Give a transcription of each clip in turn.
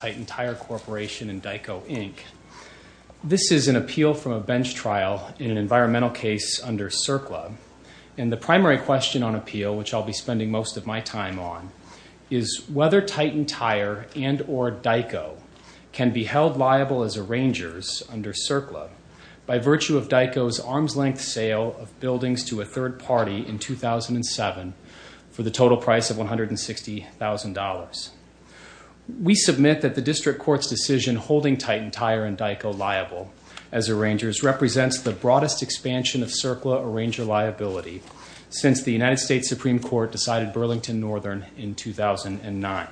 Titan Tire Corporation and Dico Inc. This is an appeal from a bench trial in an environmental case under CERCLA and the primary question on appeal, which I'll be spending most of my time on, is whether Titan Tire and or Dico can be held liable as arrangers under CERCLA by virtue of Dico's arm's-length sale of buildings to a third party in 2007 for the total price of $160,000. We submit that the district court's decision holding Titan Tire and Dico liable as arrangers represents the broadest expansion of CERCLA arranger liability since the United States Supreme Court decided Burlington Northern in 2009.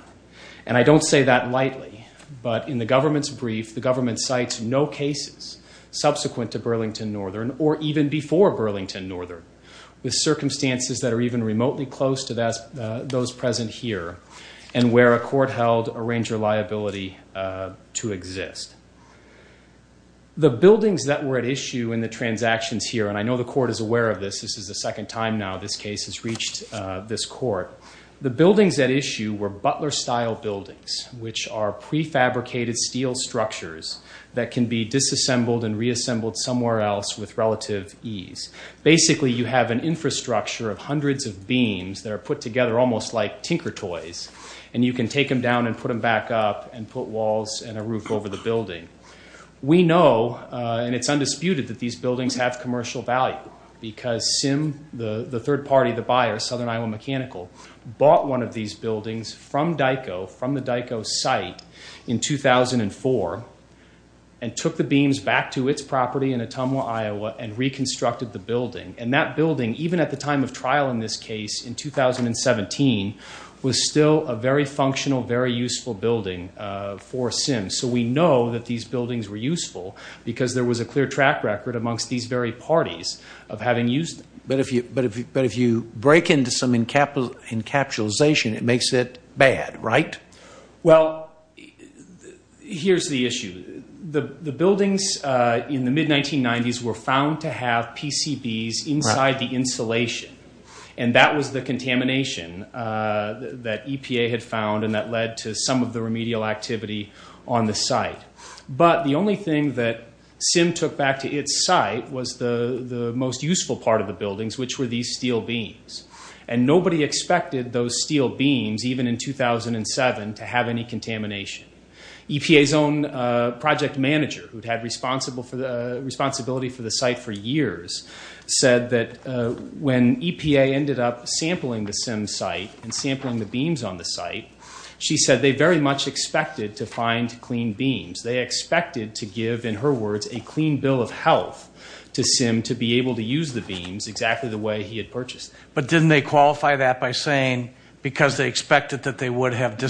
And I don't say that lightly, but in the government's brief, the government cites no cases subsequent to Burlington Northern or even before Burlington Northern with circumstances that are even remotely close to those present here and where a court held arranger liability to exist. The buildings that were at issue in the transactions here, and I know the court is aware of this, this is the second time now this case has reached this court, the buildings at issue were Butler-style buildings, which are prefabricated steel structures that can be disassembled and reassembled somewhere else with relative ease. Basically you have an infrastructure of hundreds of beams that are put together almost like tinker toys and you can take them down and put them back up and put walls and a roof over the building. We know, and it's undisputed, that these buildings have commercial value because Sim, the third-party, the buyer, Southern Iowa Mechanical, bought one of these buildings from Dico, from the Dico site, in 2004 and took the beams back to its property in Ottumwa, Iowa and reconstructed the building. And that building, even at the time of trial in this case, in 2017, was still a very functional, very useful building for Sim. So we know that these buildings were useful because there was a clear track record amongst these very parties of having used them. But if you break into some encapsulation, it makes it bad, right? Well, here's the issue. The buildings in the mid-1990s were found to have PCBs inside the insulation and that was the contamination that EPA had found and that led to some of the remedial activity on the site. But the only thing that Sim took back to its site was the the most useful part of the buildings, which were these steel beams. And nobody expected those steel beams, even in 2007, to have any contamination. EPA's own project manager, who'd had responsibility for the site for years, said that when EPA ended up sampling the Sim site and sampling the beams on the site, she said they very much expected to find clean beams. They expected to give, in her words, a clean bill of health to Sim to be able to use the beams exactly the way he had purchased. But didn't they qualify that by saying because they expected that they would have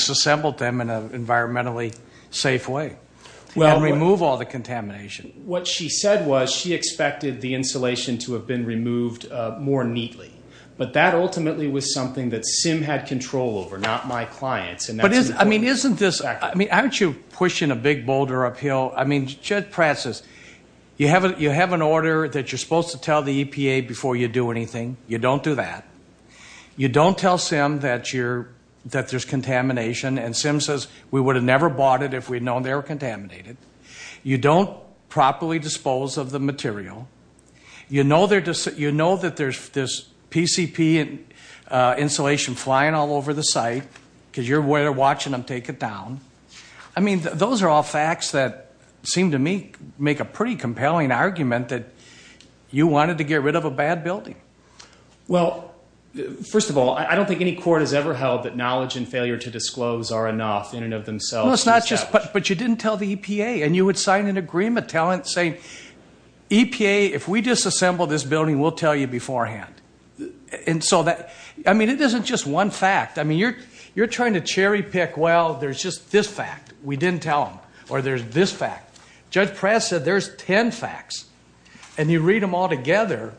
What she said was she expected the insulation to have been removed more neatly. But that ultimately was something that Sim had control over, not my clients. But isn't this, I mean, aren't you pushing a big boulder uphill? I mean, Chet Pratt says you have an order that you're supposed to tell the EPA before you do anything. You don't do that. You don't tell Sim that there's contamination and Sim says we would have never bought it if we'd contaminated. You don't properly dispose of the material. You know that there's this PCP insulation flying all over the site because you're watching them take it down. I mean, those are all facts that seem to me make a pretty compelling argument that you wanted to get rid of a bad building. Well, first of all, I don't think any court has ever held that knowledge and failure to tell the EPA. And you would sign an agreement saying, EPA, if we disassemble this building, we'll tell you beforehand. And so that, I mean, it isn't just one fact. I mean, you're trying to cherry pick, well, there's just this fact. We didn't tell them. Or there's this fact. Judge Pratt said there's 10 facts and you read them all together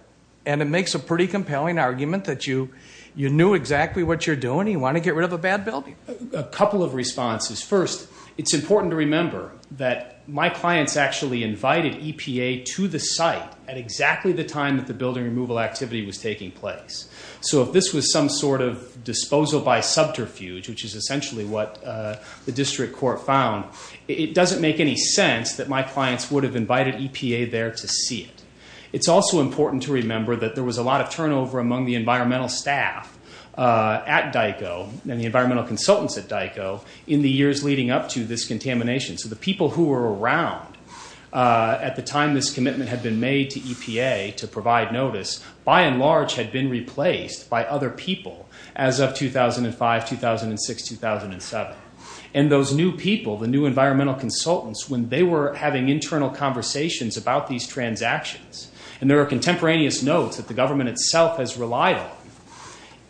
and it makes a pretty compelling argument that you knew exactly what you're doing. You want to get rid of a bad building. A couple of responses. First, it's important to remember that my clients actually invited EPA to the site at exactly the time that the building removal activity was taking place. So if this was some sort of disposal by subterfuge, which is essentially what the district court found, it doesn't make any sense that my clients would have invited EPA there to see it. It's also important to remember that there was a lot of turnover among the environmental staff at DICO and the years leading up to this contamination. So the people who were around at the time this commitment had been made to EPA to provide notice, by and large, had been replaced by other people as of 2005, 2006, 2007. And those new people, the new environmental consultants, when they were having internal conversations about these transactions, and there are contemporaneous notes that the government itself has relied on,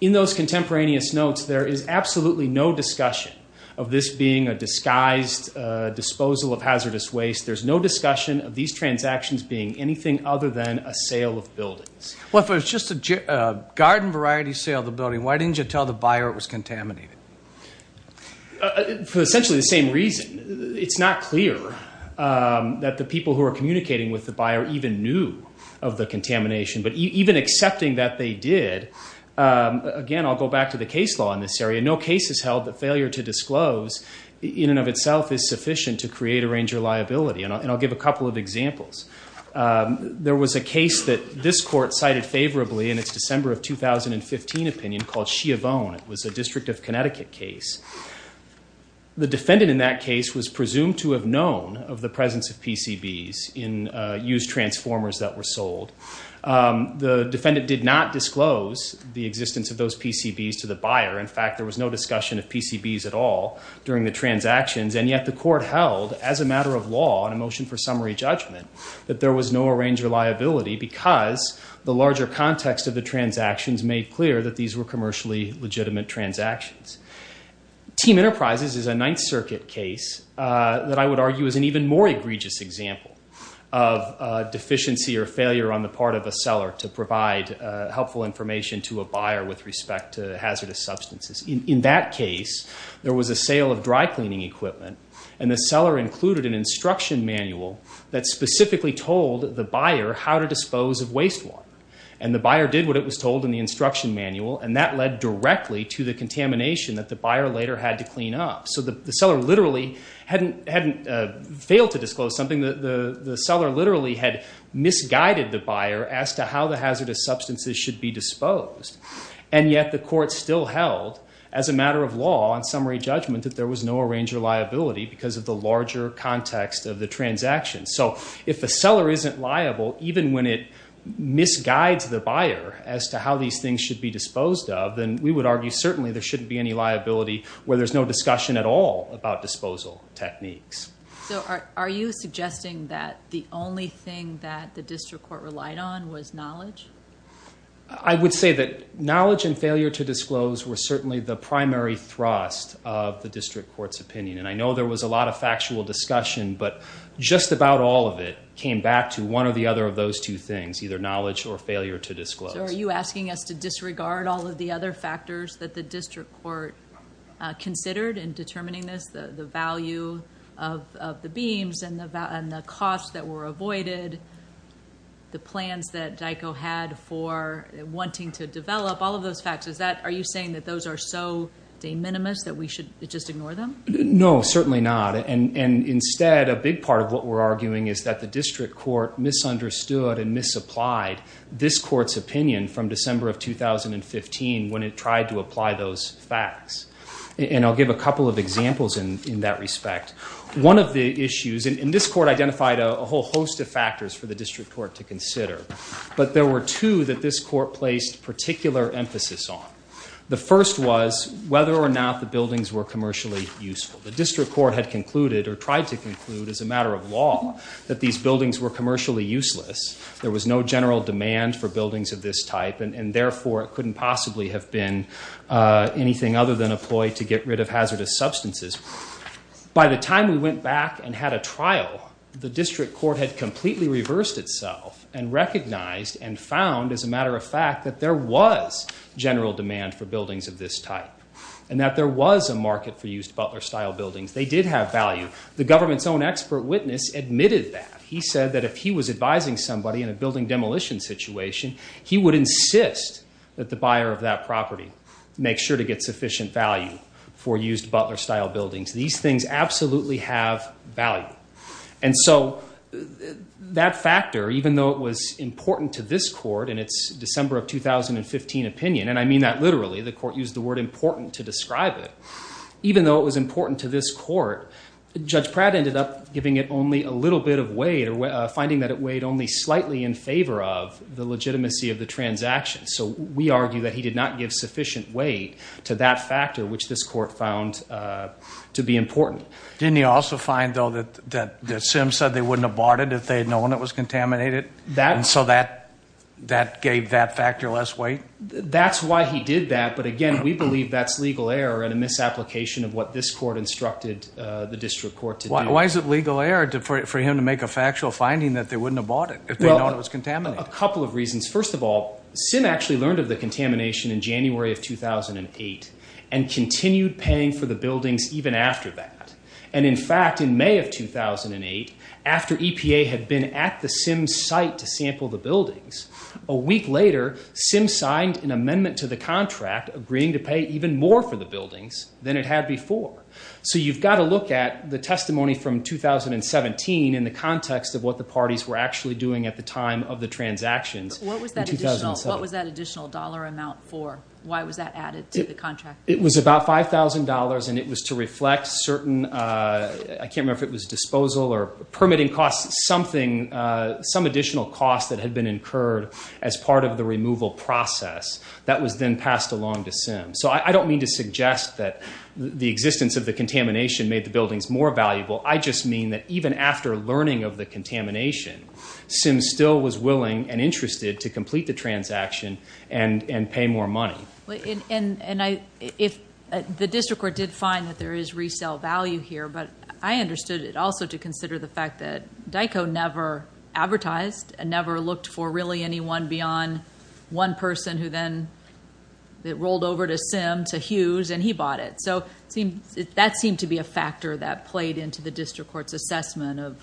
in those contemporaneous notes, there is absolutely no discussion of this being a disguised disposal of hazardous waste. There's no discussion of these transactions being anything other than a sale of buildings. Well if it was just a garden variety sale of the building, why didn't you tell the buyer it was contaminated? For essentially the same reason. It's not clear that the people who are communicating with the buyer even knew of the contamination, but even accepting that they did, again I'll go back to the case law in this area, no case has held that failure to disclose in and of itself is sufficient to create a ranger liability. And I'll give a couple of examples. There was a case that this court cited favorably in its December of 2015 opinion called Sheovone. It was a District of Connecticut case. The defendant in that case was presumed to have known of the presence of PCBs in used transformers that were sold. The defendant did not disclose the existence of those PCBs to the buyer. In fact there was no discussion of PCBs at all during the transactions, and yet the court held as a matter of law on a motion for summary judgment that there was no arranger liability because the larger context of the transactions made clear that these were commercially legitimate transactions. Team Enterprises is a Ninth Circuit case that I would argue is an even more egregious example of deficiency or failure on the part of a seller to provide helpful information to a buyer with respect to hazardous substances. In that case there was a sale of dry-cleaning equipment and the seller included an instruction manual that specifically told the buyer how to dispose of waste water. And the buyer did what it was told in the instruction manual and that led directly to the contamination that the buyer later had to clean up. So the seller literally hadn't failed to disclose something that the seller literally had misguided the buyer as to how the hazardous substances should be disposed, and yet the court still held as a matter of law on summary judgment that there was no arranger liability because of the larger context of the transactions. So if the seller isn't liable even when it misguides the buyer as to how these things should be disposed of, then we would argue certainly there shouldn't be any liability where there's no the only thing that the district court relied on was knowledge? I would say that knowledge and failure to disclose were certainly the primary thrust of the district court's opinion. And I know there was a lot of factual discussion, but just about all of it came back to one or the other of those two things, either knowledge or failure to disclose. So are you asking us to disregard all of the other factors that the district court considered in determining this, the value of the beams and the costs that were avoided, the plans that DICO had for wanting to develop, all of those factors, are you saying that those are so de minimis that we should just ignore them? No, certainly not. And instead, a big part of what we're arguing is that the district court misunderstood and misapplied this court's opinion from December of 2015 when it tried to apply those facts. And I'll give a couple of examples in that respect. One of the issues, and this court identified a whole host of factors for the district court to consider, but there were two that this court placed particular emphasis on. The first was whether or not the buildings were commercially useful. The district court had concluded or tried to conclude as a matter of law that these buildings were commercially useless. There was no general demand for buildings of this type, and therefore it couldn't possibly have been anything other than a ploy to get rid of hazardous substances. By the time we went back and had a trial, the district court had completely reversed itself and recognized and found, as a matter of fact, that there was general demand for buildings of this type and that there was a market for used Butler style buildings. They did have value. The government's own expert witness admitted that. He said that if he was advising somebody in a building demolition situation, he would insist that the buyer of that property make sure to get sufficient value for used Butler style buildings. These things absolutely have value. And so that factor, even though it was important to this court in its December of 2015 opinion, and I mean that literally, the court used the word important to describe it, even though it was important to this court, Judge Pratt ended up giving it only a little bit of weight or finding that it weighed only slightly in favor of the legitimacy of the transaction. So we argue that he did not give sufficient weight to that factor, which this court found to be important. Didn't he also find, though, that that Simms said they wouldn't have bought it if they had known it was contaminated? And so that that gave that factor less weight? That's why he did that, but again we believe that's legal error and a misapplication of what this court instructed the district court to do. Why is it legal error for him to make a factual finding that they wouldn't have bought it if they'd known it was contaminated? A couple of reasons. First of all, Simms actually learned of the contamination in January of 2008 and continued paying for the buildings even after that. And in fact, in May of 2008, after EPA had been at the Simms site to sample the buildings, a week later Simms signed an amendment to the contract agreeing to pay even more for the from 2017 in the context of what the parties were actually doing at the time of the transactions. What was that additional dollar amount for? Why was that added to the contract? It was about $5,000 and it was to reflect certain, I can't remember if it was disposal or permitting costs, something, some additional costs that had been incurred as part of the removal process that was then passed along to Simms. So I don't mean to suggest that the existence of the contamination made the buildings more valuable. I just mean that even after learning of the contamination, Simms still was willing and interested to complete the transaction and pay more money. And the district court did find that there is resale value here, but I understood it also to consider the fact that DICO never advertised and never looked for really anyone beyond one person who then rolled over to Simms, to that seemed to be a factor that played into the district court's assessment of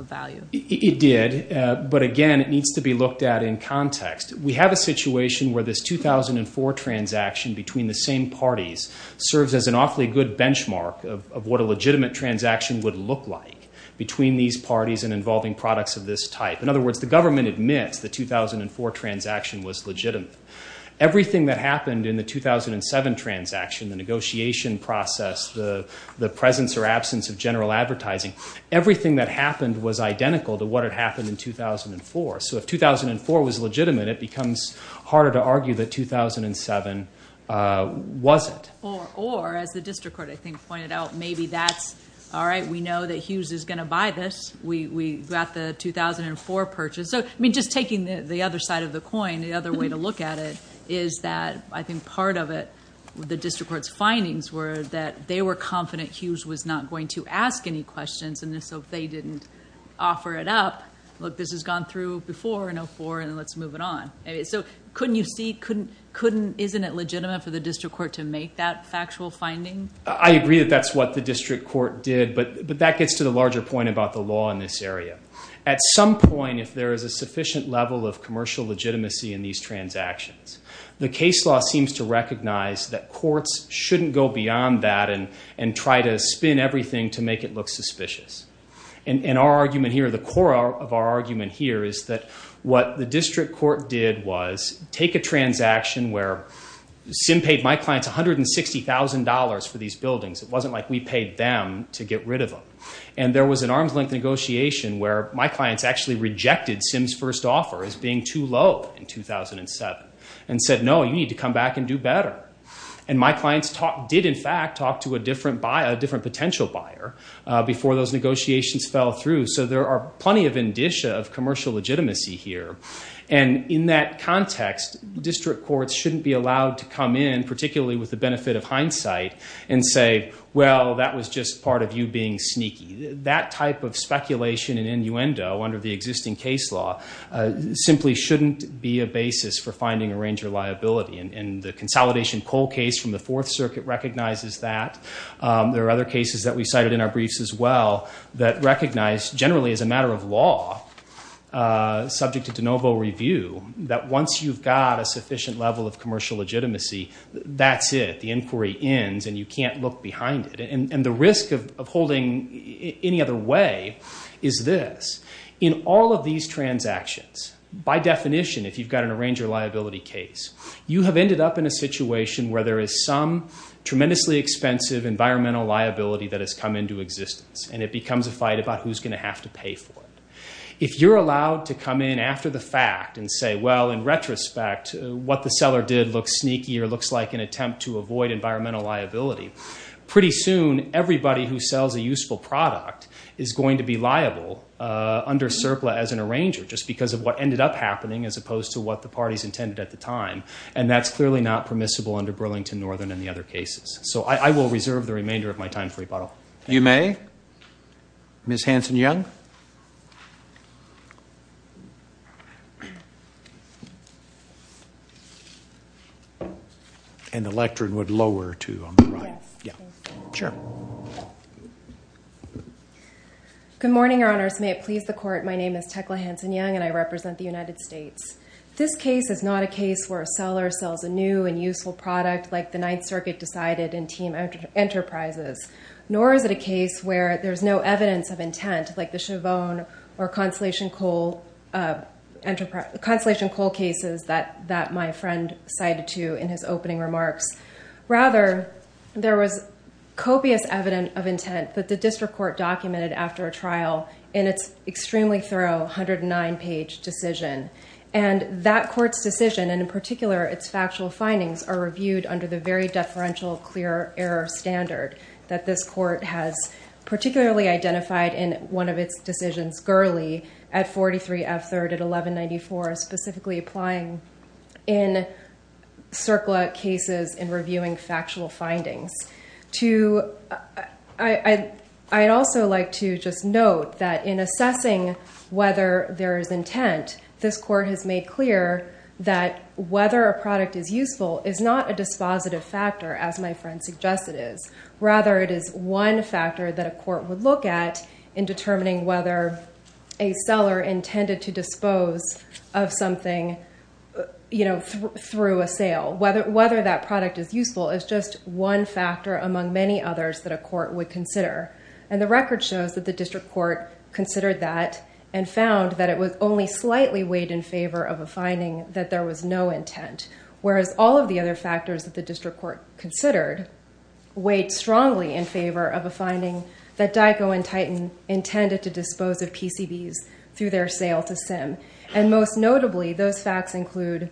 value. It did, but again it needs to be looked at in context. We have a situation where this 2004 transaction between the same parties serves as an awfully good benchmark of what a legitimate transaction would look like between these parties and involving products of this type. In other words, the government admits the 2004 transaction was legitimate. Everything that happened in the 2007 transaction, the negotiation process, the presence or absence of general advertising, everything that happened was identical to what had happened in 2004. So if 2004 was legitimate, it becomes harder to argue that 2007 was it. Or as the district court I think pointed out, maybe that's all right, we know that Hughes is going to buy this. We got the 2004 purchase. So I mean just taking the other side of the coin, the other way to look at it is that I think part of it, the district court's findings were that they were confident Hughes was not going to ask any questions, and so if they didn't offer it up, look this has gone through before in 2004 and let's move it on. So couldn't you see, couldn't, isn't it legitimate for the district court to make that factual finding? I agree that that's what the district court did, but that gets to the larger point about the law in this area. At some point if there is a sufficient level of commercial legitimacy in these transactions, the case law seems to recognize that courts shouldn't go beyond that and and try to spin everything to make it look suspicious. And our argument here, the core of our argument here, is that what the district court did was take a transaction where Sim paid my clients $160,000 for these buildings. It wasn't like we paid them to get rid of them. And there was an arm's-length negotiation where my clients actually rejected Sim's first offer as being too low in 2007 and said no, you need to come back and do better. And my clients did in fact talk to a different potential buyer before those negotiations fell through. So there are plenty of indicia of commercial legitimacy here. And in that context, district courts shouldn't be allowed to come in, particularly with the benefit of hindsight, and say well that was just part of you being sneaky. That type of speculation and innuendo under the existing case law simply shouldn't be a basis for finding a ranger liability. And the consolidation Cole case from the Fourth Circuit recognizes that. There are other cases that we cited in our briefs as well that recognize, generally as a matter of law, subject to de novo review, that once you've got a sufficient level of commercial legitimacy, that's it. The inquiry ends and you can't look behind it. And the risk of holding any other way is this. In all of these transactions, by definition, if you've got an arranger liability case, you have ended up in a situation where there is some tremendously expensive environmental liability that has come into existence. And it becomes a fight about who's going to have to pay for it. If you're allowed to come in after the fact and say, well in retrospect, what the seller did looks sneaky or looks like an attempt to avoid environmental liability, pretty soon everybody who sells a useful product is going to be liable under surplus as an arranger, just because of what ended up happening, as opposed to what the parties intended at the time. And that's clearly not permissible under Burlington Northern and the other cases. So I will reserve the remainder of my time for rebuttal. You may. Ms. Hanson-Young. And the lectern would lower, too, on the right. Good morning, Your Honors. May it please the Court. My name is Tekla Hanson-Young and I represent the United States. This case is not a case where a seller sells a new and useful product like the Ninth Circuit decided in Team Enterprises, nor is it a case where there's no evidence of intent, like the Chavon or Constellation Coal cases that my friend cited to in his opening remarks. Rather, there was copious evidence of intent that the district court documented after a trial in its extremely thorough 109-page decision. And that court's decision, and in particular its factual findings, are reviewed under the very deferential clear error standard that this court has particularly identified in one of its decisions, Gurley, at 43 F. 3rd at 1194, specifically applying in cases in reviewing factual findings. I'd also like to just note that in assessing whether there is intent, this court has made clear that whether a product is useful is not a dispositive factor, as my friend suggested is. Rather, it is one factor that a court would look at in determining whether a seller intended to dispose of something, you know, through a sale. Whether that product is useful is just one factor among many others that a court would consider. And the record shows that the district court considered that and found that it was only slightly weighed in favor of a finding that there was no intent, whereas all of the other factors that the district court considered weighed strongly in favor of a finding that DICO and Titan intended to dispose of PCBs through their sale to Sim. And most notably, those facts include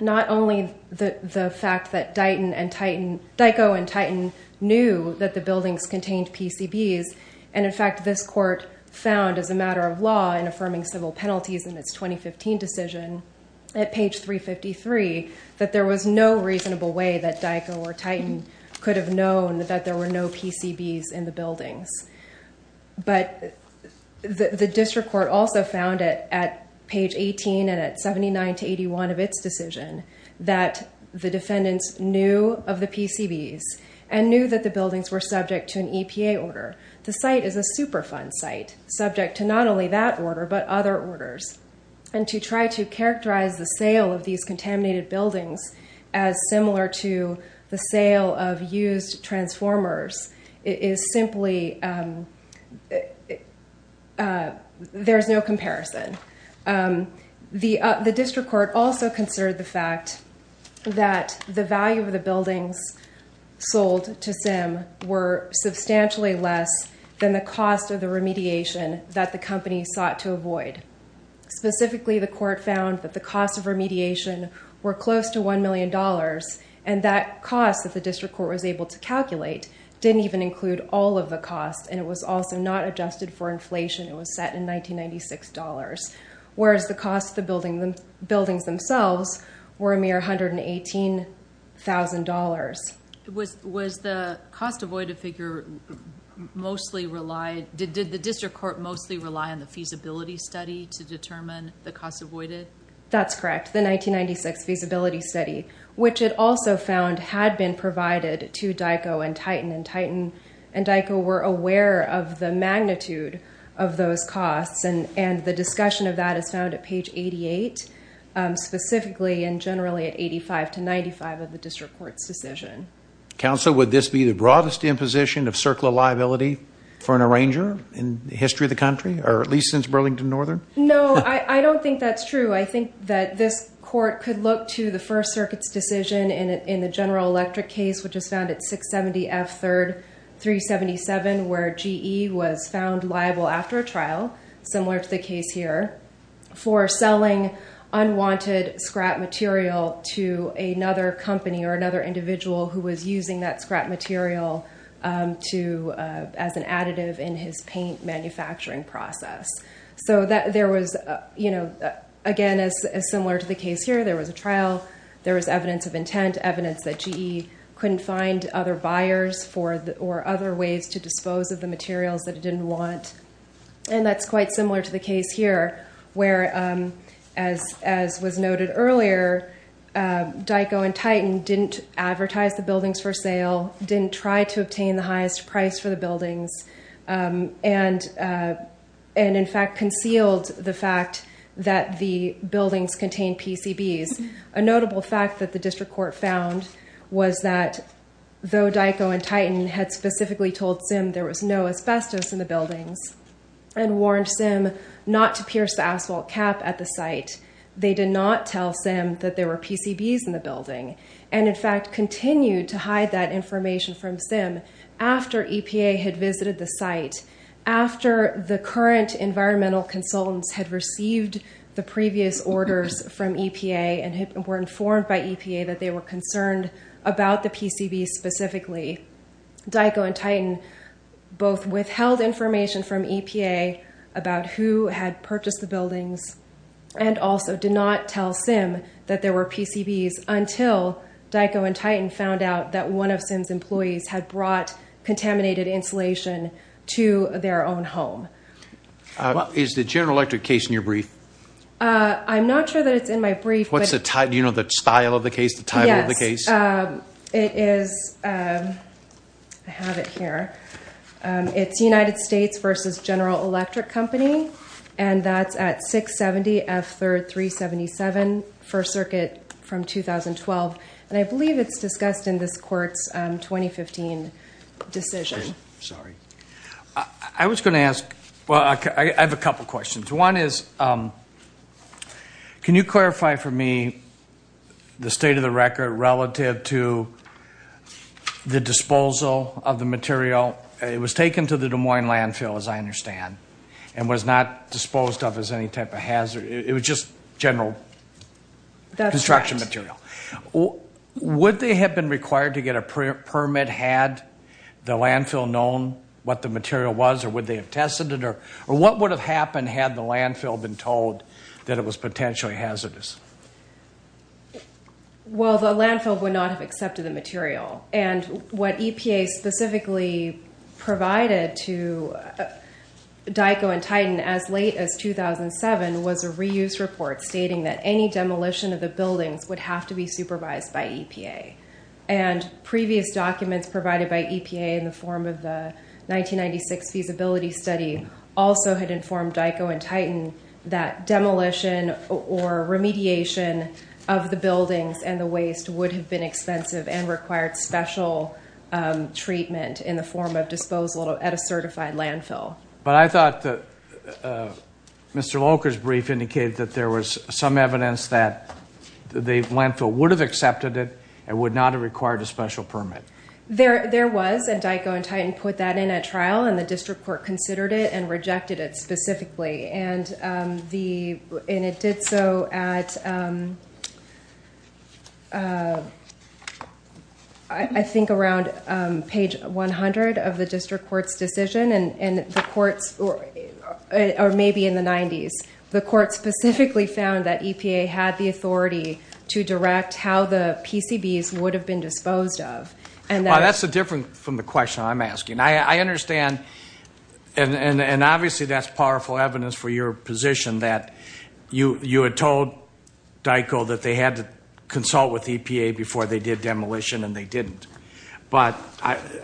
not only the fact that DICO and Titan knew that the buildings contained PCBs, and in fact this court found as a matter of law in affirming civil penalties in its 2015 decision at page 353 that there was no reasonable way that DICO or Titan could have known that there were no PCBs in the buildings. But the district court also found it at page 18 and at 79 to 81 of its decision that the defendants knew of the PCBs and knew that the buildings were subject to an EPA order. The site is a Superfund site, subject to not only that order but other orders. And to try to characterize the sale of these contaminated buildings as similar to the transformers is simply, there's no comparison. The district court also considered the fact that the value of the buildings sold to Sim were substantially less than the cost of the remediation that the company sought to avoid. Specifically, the court found that the cost of remediation were close to calculate, didn't even include all of the costs, and it was also not adjusted for inflation. It was set in 1996 dollars, whereas the cost of the buildings themselves were a mere $118,000. Was the cost avoided figure mostly relied, did the district court mostly rely on the feasibility study to determine the cost avoided? That's correct, the 1996 feasibility study, which it also found had been provided to DICO and Titan, and Titan and DICO were aware of the magnitude of those costs, and the discussion of that is found at page 88, specifically and generally at 85 to 95 of the district court's decision. Counsel, would this be the broadest imposition of circular liability for an arranger in the history of the country, or at least since Burlington Northern? No, I don't think that's true. I think that this court could look to the First General Electric case, which is found at 670 F 3rd 377, where GE was found liable after a trial, similar to the case here, for selling unwanted scrap material to another company or another individual who was using that scrap material as an additive in his paint manufacturing process. Again, as similar to the case here, there was a trial, there was evidence of intent, evidence that GE couldn't find other buyers or other ways to dispose of the materials that it didn't want, and that's quite similar to the case here, where, as was noted earlier, DICO and Titan didn't advertise the buildings for sale, didn't try to obtain the highest price for the buildings, and in fact concealed the fact that the notable fact that the district court found was that, though DICO and Titan had specifically told Sim there was no asbestos in the buildings and warned Sim not to pierce the asphalt cap at the site, they did not tell Sim that there were PCBs in the building, and in fact continued to hide that information from Sim after EPA had visited the site, after the current environmental consultants had received the previous orders from EPA and were informed by EPA that they were concerned about the PCBs specifically. DICO and Titan both withheld information from EPA about who had purchased the buildings and also did not tell Sim that there were PCBs until DICO and Titan found out that one of Sim's employees had brought contaminated insulation to their own home. Is the General Electric case in your brief? I'm not sure that it's in my brief. What's the title? Do you know the style of the case, the title of the case? Yes, it is, I have it here, it's United States versus General Electric Company, and that's at 670 F3rd 377, First Circuit from 2012, and I believe it's discussed in this court's 2015 decision. I was going to ask, well, I have a couple questions. One is, can you clarify for me the state of the record relative to the disposal of the material? It was taken to the Des Moines landfill, as I understand, and was not disposed of as any type of hazard, it was just general construction material. Would they have been required to get a permit had the landfill known what the material was, or would they have tested it, or what would have happened had the landfill been told that it was potentially hazardous? Well, the landfill would not have accepted the material, and what EPA specifically provided to DICO and Titan as late as 2007 was a reuse report stating that any demolition of the buildings would have to be supervised by EPA, and previous documents provided by EPA in the form of the 1996 feasibility study also had informed DICO and Titan that demolition or remediation of the buildings and the waste would have been expensive and required special treatment in the form of disposal at a certified landfill. But I thought that Mr. Loker's brief indicated that there was some evidence that the landfill would have accepted it and would not have required a special permit. There was, and DICO and Titan put that in at trial, and the district court considered it and rejected it specifically, and it did so at I think around page 100 of the district court's decision, and the courts, or maybe in the 90s, the court specifically found that EPA had the authority to direct how the PCBs would have been disposed of. That's different from the question I'm asking. I understand, and obviously that's powerful evidence for your position that you had told DICO that they had to consult with EPA before they did demolition, and they didn't. But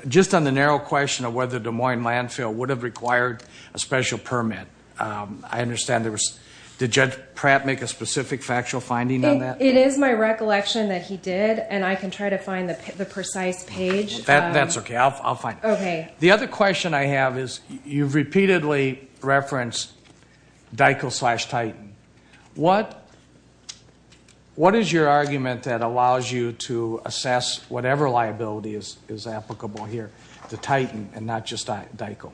just on the narrow question of whether Des Moines landfill would have required a special permit, I understand there was... Did Judge Pratt make a specific factual finding on that? It is my recollection that he did, and I can try to find the precise page. That's okay. I'll find it. Okay. The other question I have is, you've repeatedly referenced DICO slash Titan. What is your argument that allows you to assess whatever liability is applicable here to Titan and not just DICO?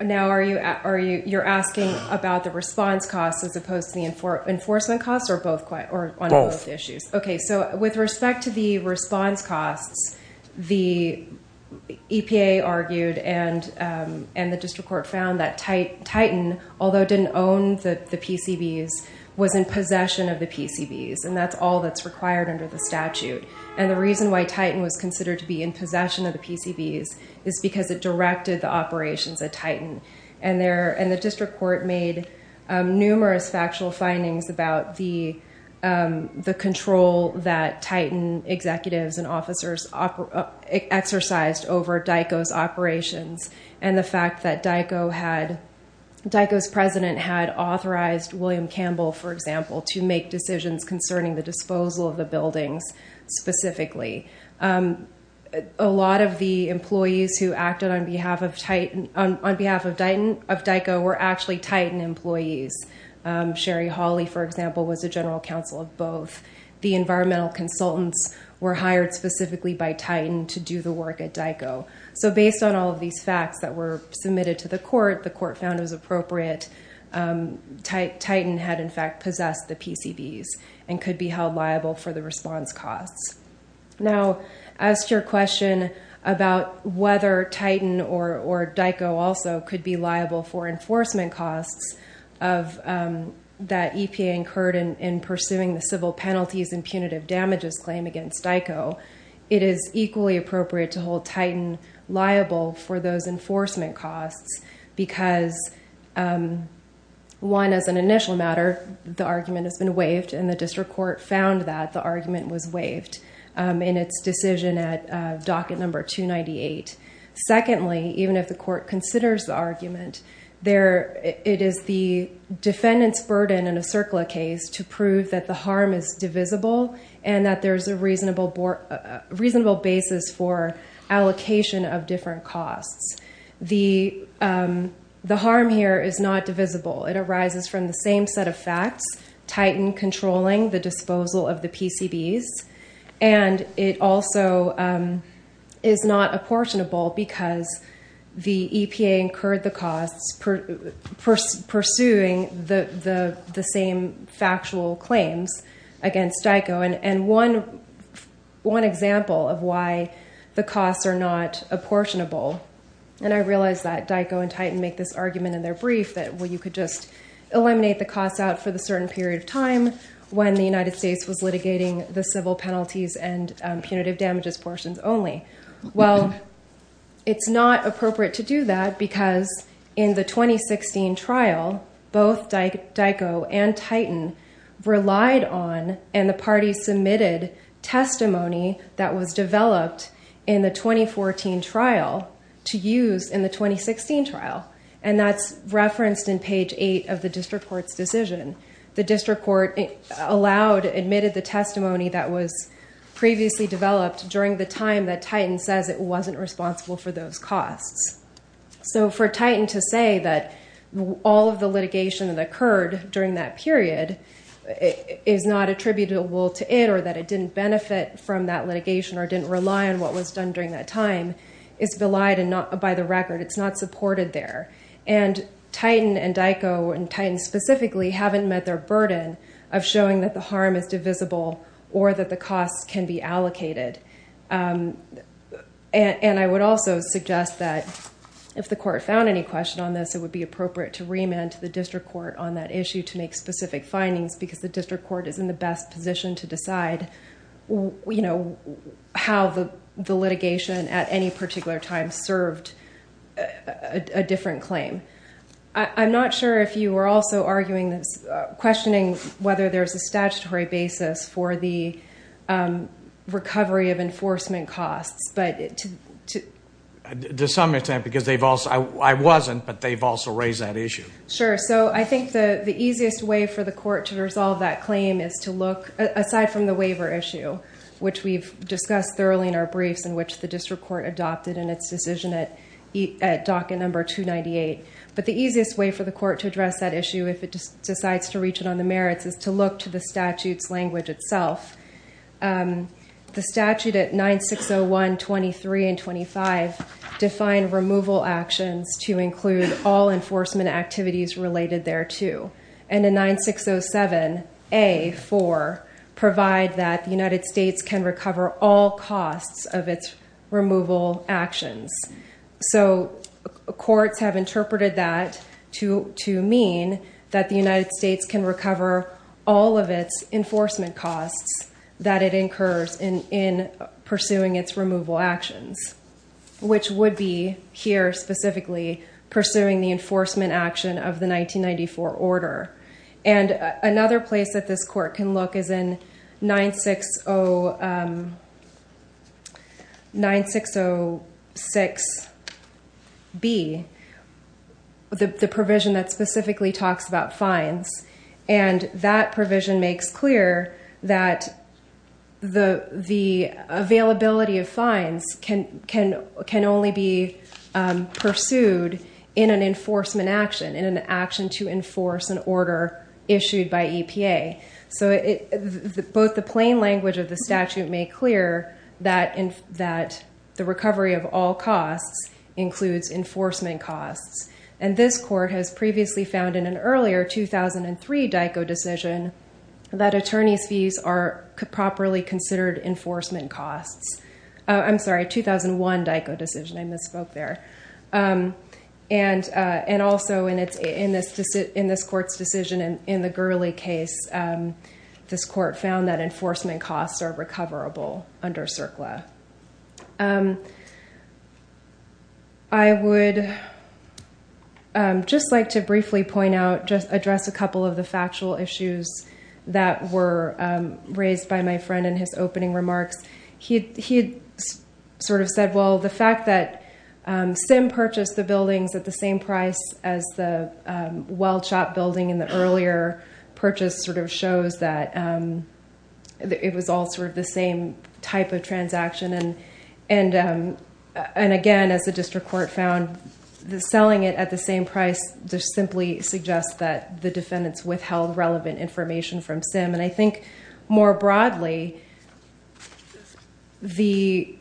Now, you're asking about the response costs as opposed to the enforcement costs, or on both issues? Both. With respect to the response costs, the EPA argued and the district court found that Titan, although it didn't own the PCBs, was in possession of the PCBs, and that's all that's required under the statute. The reason why Titan was considered to be in possession of the PCBs is because it directed the operations at Titan, and the district court made numerous factual findings about the control that Titan executives and officers exercised over DICO's operations, and the fact that DICO's president had authorized William Campbell, for example, to make decisions concerning the disposal of the buildings, specifically. A lot of the employees who acted on behalf of DICO were actually Titan employees. Sherry Hawley, for example, was a general counsel of both. The environmental consultants were hired specifically by Titan to do the work at DICO. So based on all of these facts that were submitted to the court, the court found it was appropriate. Titan had, in fact, possessed the PCBs and could be held liable for the response costs. Now, as to your question about whether Titan or DICO also could be liable for the consequences that EPA incurred in pursuing the civil penalties and punitive damages claim against DICO, it is equally appropriate to hold Titan liable for those enforcement costs because, one, as an initial matter, the argument has been waived, and the district court found that the argument was waived in its decision at docket number 298. Secondly, even if the defendant's burden in a CERCLA case to prove that the harm is divisible and that there's a reasonable basis for allocation of different costs, the harm here is not divisible. It arises from the same set of facts, Titan controlling the disposal of the PCBs, and it also is not apportionable because the EPA incurred the costs pursuing the same factual claims against DICO. And one example of why the costs are not apportionable, and I realize that DICO and Titan make this argument in their brief that, well, you could just eliminate the costs out for the certain period of time when the United States was litigating the civil penalties and punitive damages portions only. Well, it's not appropriate to do that because in the 2016 trial, both DICO and Titan relied on and the parties submitted testimony that was developed in the 2014 trial to use in the 2016 trial, and that's referenced in page 8 of the district court's decision. The district court allowed, admitted the testimony that was previously developed during the time that Titan says it wasn't responsible for those costs. So for Titan to say that all of the litigation that occurred during that period is not attributable to it or that it didn't benefit from that litigation or didn't rely on what was done during that time is belied by the record. It's not supported there. And Titan and DICO and Titan specifically haven't met their burden of showing that the harm is divisible or that the costs can be allocated. And I would also suggest that if the court found any question on this, it would be appropriate to remand to the district court on that issue to make specific findings because the district court is in the best position to decide how the litigation at any particular time served a different claim. I'm not sure if you were also questioning whether there's a statutory basis for the recovery of enforcement costs. To some extent because I wasn't, but they've also raised that issue. Sure. So I think the easiest way for the court to resolve that claim is to look, aside from the waiver issue, which we've discussed thoroughly in our briefs in which the district court adopted in its decision at docket number 298. But the easiest way for the court to address that issue if it decides to reach it on the merits is to look to the statute's language itself. The statute at 9601, 23, and 25 define removal actions to include all enforcement activities related thereto. And in 9607A, 4, provide that the United States can recover all costs of its removal actions. So courts have interpreted that to mean that the all of its enforcement costs that it incurs in pursuing its removal actions, which would be here specifically pursuing the enforcement action of the 1994 order. And another place that this court can look is in 9606B, the provision that makes clear that the availability of fines can only be pursued in an enforcement action, in an action to enforce an order issued by EPA. So both the plain language of the statute make clear that the recovery of all costs includes enforcement costs. And this court has previously found in an earlier 2003 DICO decision that attorney's fees are properly considered enforcement costs. I'm sorry, 2001 DICO decision, I misspoke there. And also in this court's decision in the Gurley case, this court found that just like to briefly point out, just address a couple of the factual issues that were raised by my friend in his opening remarks. He sort of said, well, the fact that Sim purchased the buildings at the same price as the well shop building in the earlier purchase sort of shows that it was all sort of the same type of transaction. And again, as the district court found, selling it at the same price just simply suggests that the defendants withheld relevant information from Sim. And I think more broadly, the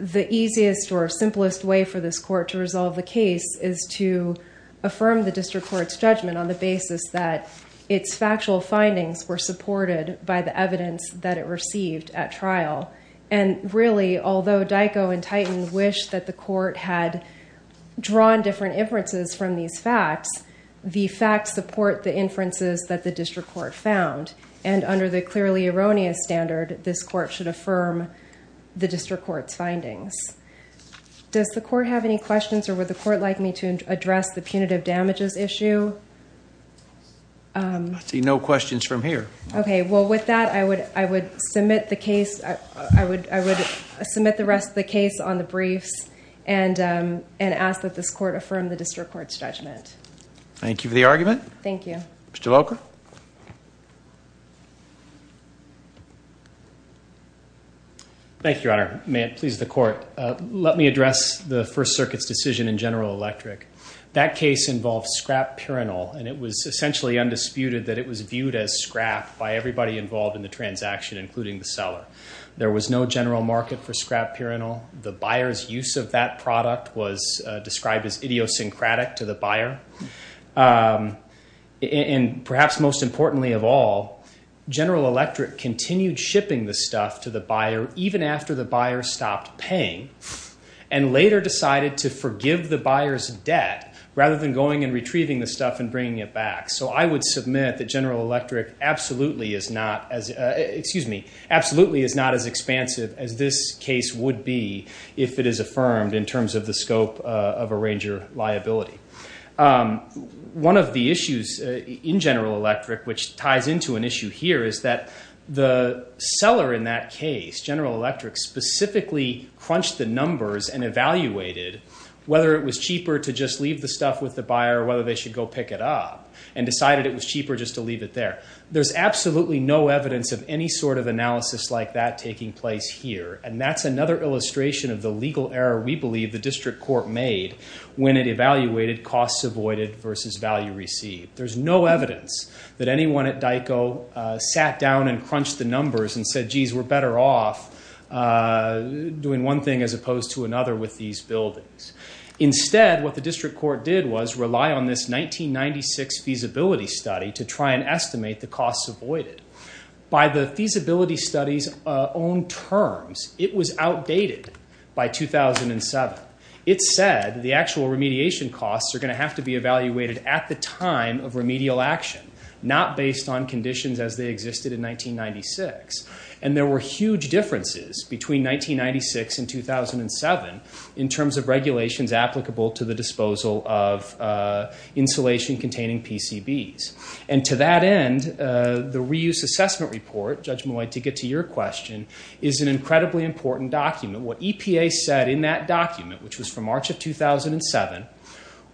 easiest or simplest way for this court to resolve the case is to affirm the district court's judgment on the basis that its factual findings were supported by the evidence that it received at trial. And really, although DICO and Titan wish that the court had drawn different inferences from these facts, the facts support the inferences that the district court found. And under the clearly erroneous standard, this court should affirm the district court's findings. Does the court have any questions or would the court like me to address the punitive damages issue? I see no questions from here. Okay. Well, with that, I would submit the rest of the case on the briefs and ask that this court affirm the district court's judgment. Thank you for the argument. Thank you. Mr. Locher. Thank you, Your Honor. May it please the court. Let me address the First Circuit's decision in General Electric. That case involved scrap pyranol, and it was essentially undisputed that it was viewed as scrap by everybody involved in the transaction, including the seller. There was no general market for scrap pyranol. The buyer's use of that product was described as idiosyncratic to the buyer. And perhaps most importantly of all, General Electric continued shipping the stuff to the buyer even after the buyer stopped paying and later decided to forgive the buyer's debt rather than going and retrieving the stuff and bringing it back. So I would submit that General Electric absolutely is not as, excuse me, absolutely is not as expansive as this case would be if it is affirmed in terms of the scope of arranger liability. One of the issues in General Electric which ties into an issue here is that the seller in that case, General Electric, specifically crunched the numbers and evaluated whether it was cheaper to leave the stuff with the buyer or whether they should go pick it up and decided it was cheaper just to leave it there. There's absolutely no evidence of any sort of analysis like that taking place here, and that's another illustration of the legal error we believe the district court made when it evaluated costs avoided versus value received. There's no evidence that anyone at DICO sat down and crunched the numbers and said, geez, we're better off doing one thing as opposed to another with these buildings. Instead, what the district court did was rely on this 1996 feasibility study to try and estimate the costs avoided. By the feasibility study's own terms, it was outdated by 2007. It said the actual remediation costs are going to have to be evaluated at the time of remedial action, not based on conditions as they existed in 1996. There were huge differences between 1996 and 2007 in terms of regulations applicable to the disposal of insulation containing PCBs. To that end, the reuse assessment report, Judge Malloy, to get to your question, is an incredibly important document. What EPA said in that document, which was from March of 2007,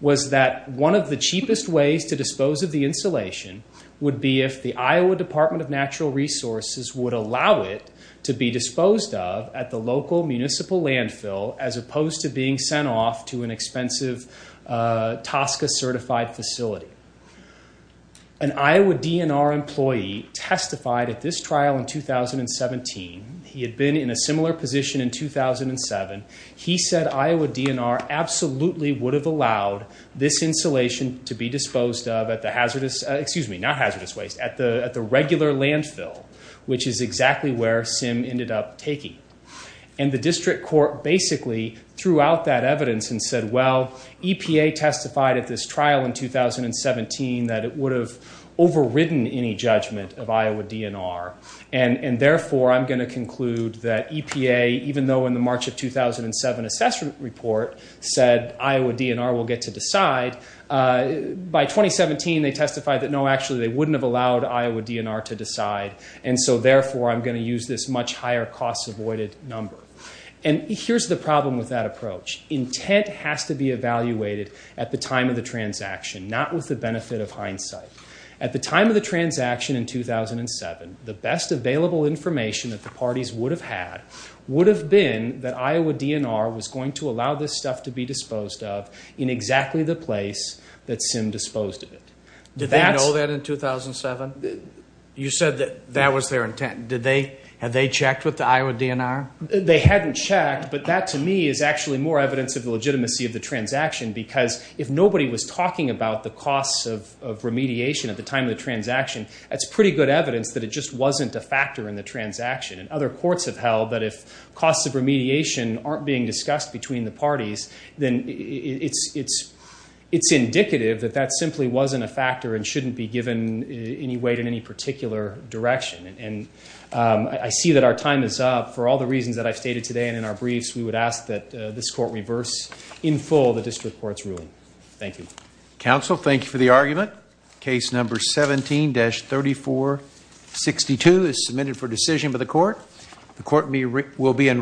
was that one of the cheapest ways to dispose of insulation would be if the Iowa Department of Natural Resources would allow it to be disposed of at the local municipal landfill as opposed to being sent off to an expensive TSCA-certified facility. An Iowa DNR employee testified at this trial in 2017. He had been in a similar position in 2007. He said Iowa DNR absolutely would have allowed this insulation to be disposed of at the regular landfill, which is exactly where Sim ended up taking. The district court basically threw out that evidence and said, well, EPA testified at this trial in 2017 that it would have overridden any judgment of Iowa DNR. Therefore, I'm going to conclude that EPA, even though in the March of 2007 assessment report said Iowa DNR will get to decide, by 2017, they testified that, no, actually, they wouldn't have allowed Iowa DNR to decide, and so, therefore, I'm going to use this much higher cost-avoided number. Here's the problem with that approach. Intent has to be evaluated at the time of the transaction, not with the benefit of hindsight. At the time of the transaction in 2007, the best available information that the parties would have had would have been that Iowa DNR was going to allow this that Sim disposed of it. Did they know that in 2007? You said that that was their intent. Had they checked with the Iowa DNR? They hadn't checked, but that, to me, is actually more evidence of the legitimacy of the transaction because if nobody was talking about the costs of remediation at the time of the transaction, that's pretty good evidence that it just wasn't a factor in the transaction. Other courts have that that simply wasn't a factor and shouldn't be given any weight in any particular direction, and I see that our time is up. For all the reasons that I've stated today and in our briefs, we would ask that this court reverse in full the district court's ruling. Thank you. Counsel, thank you for the argument. Case number 17-3462 is submitted for decision by the court. The court will be in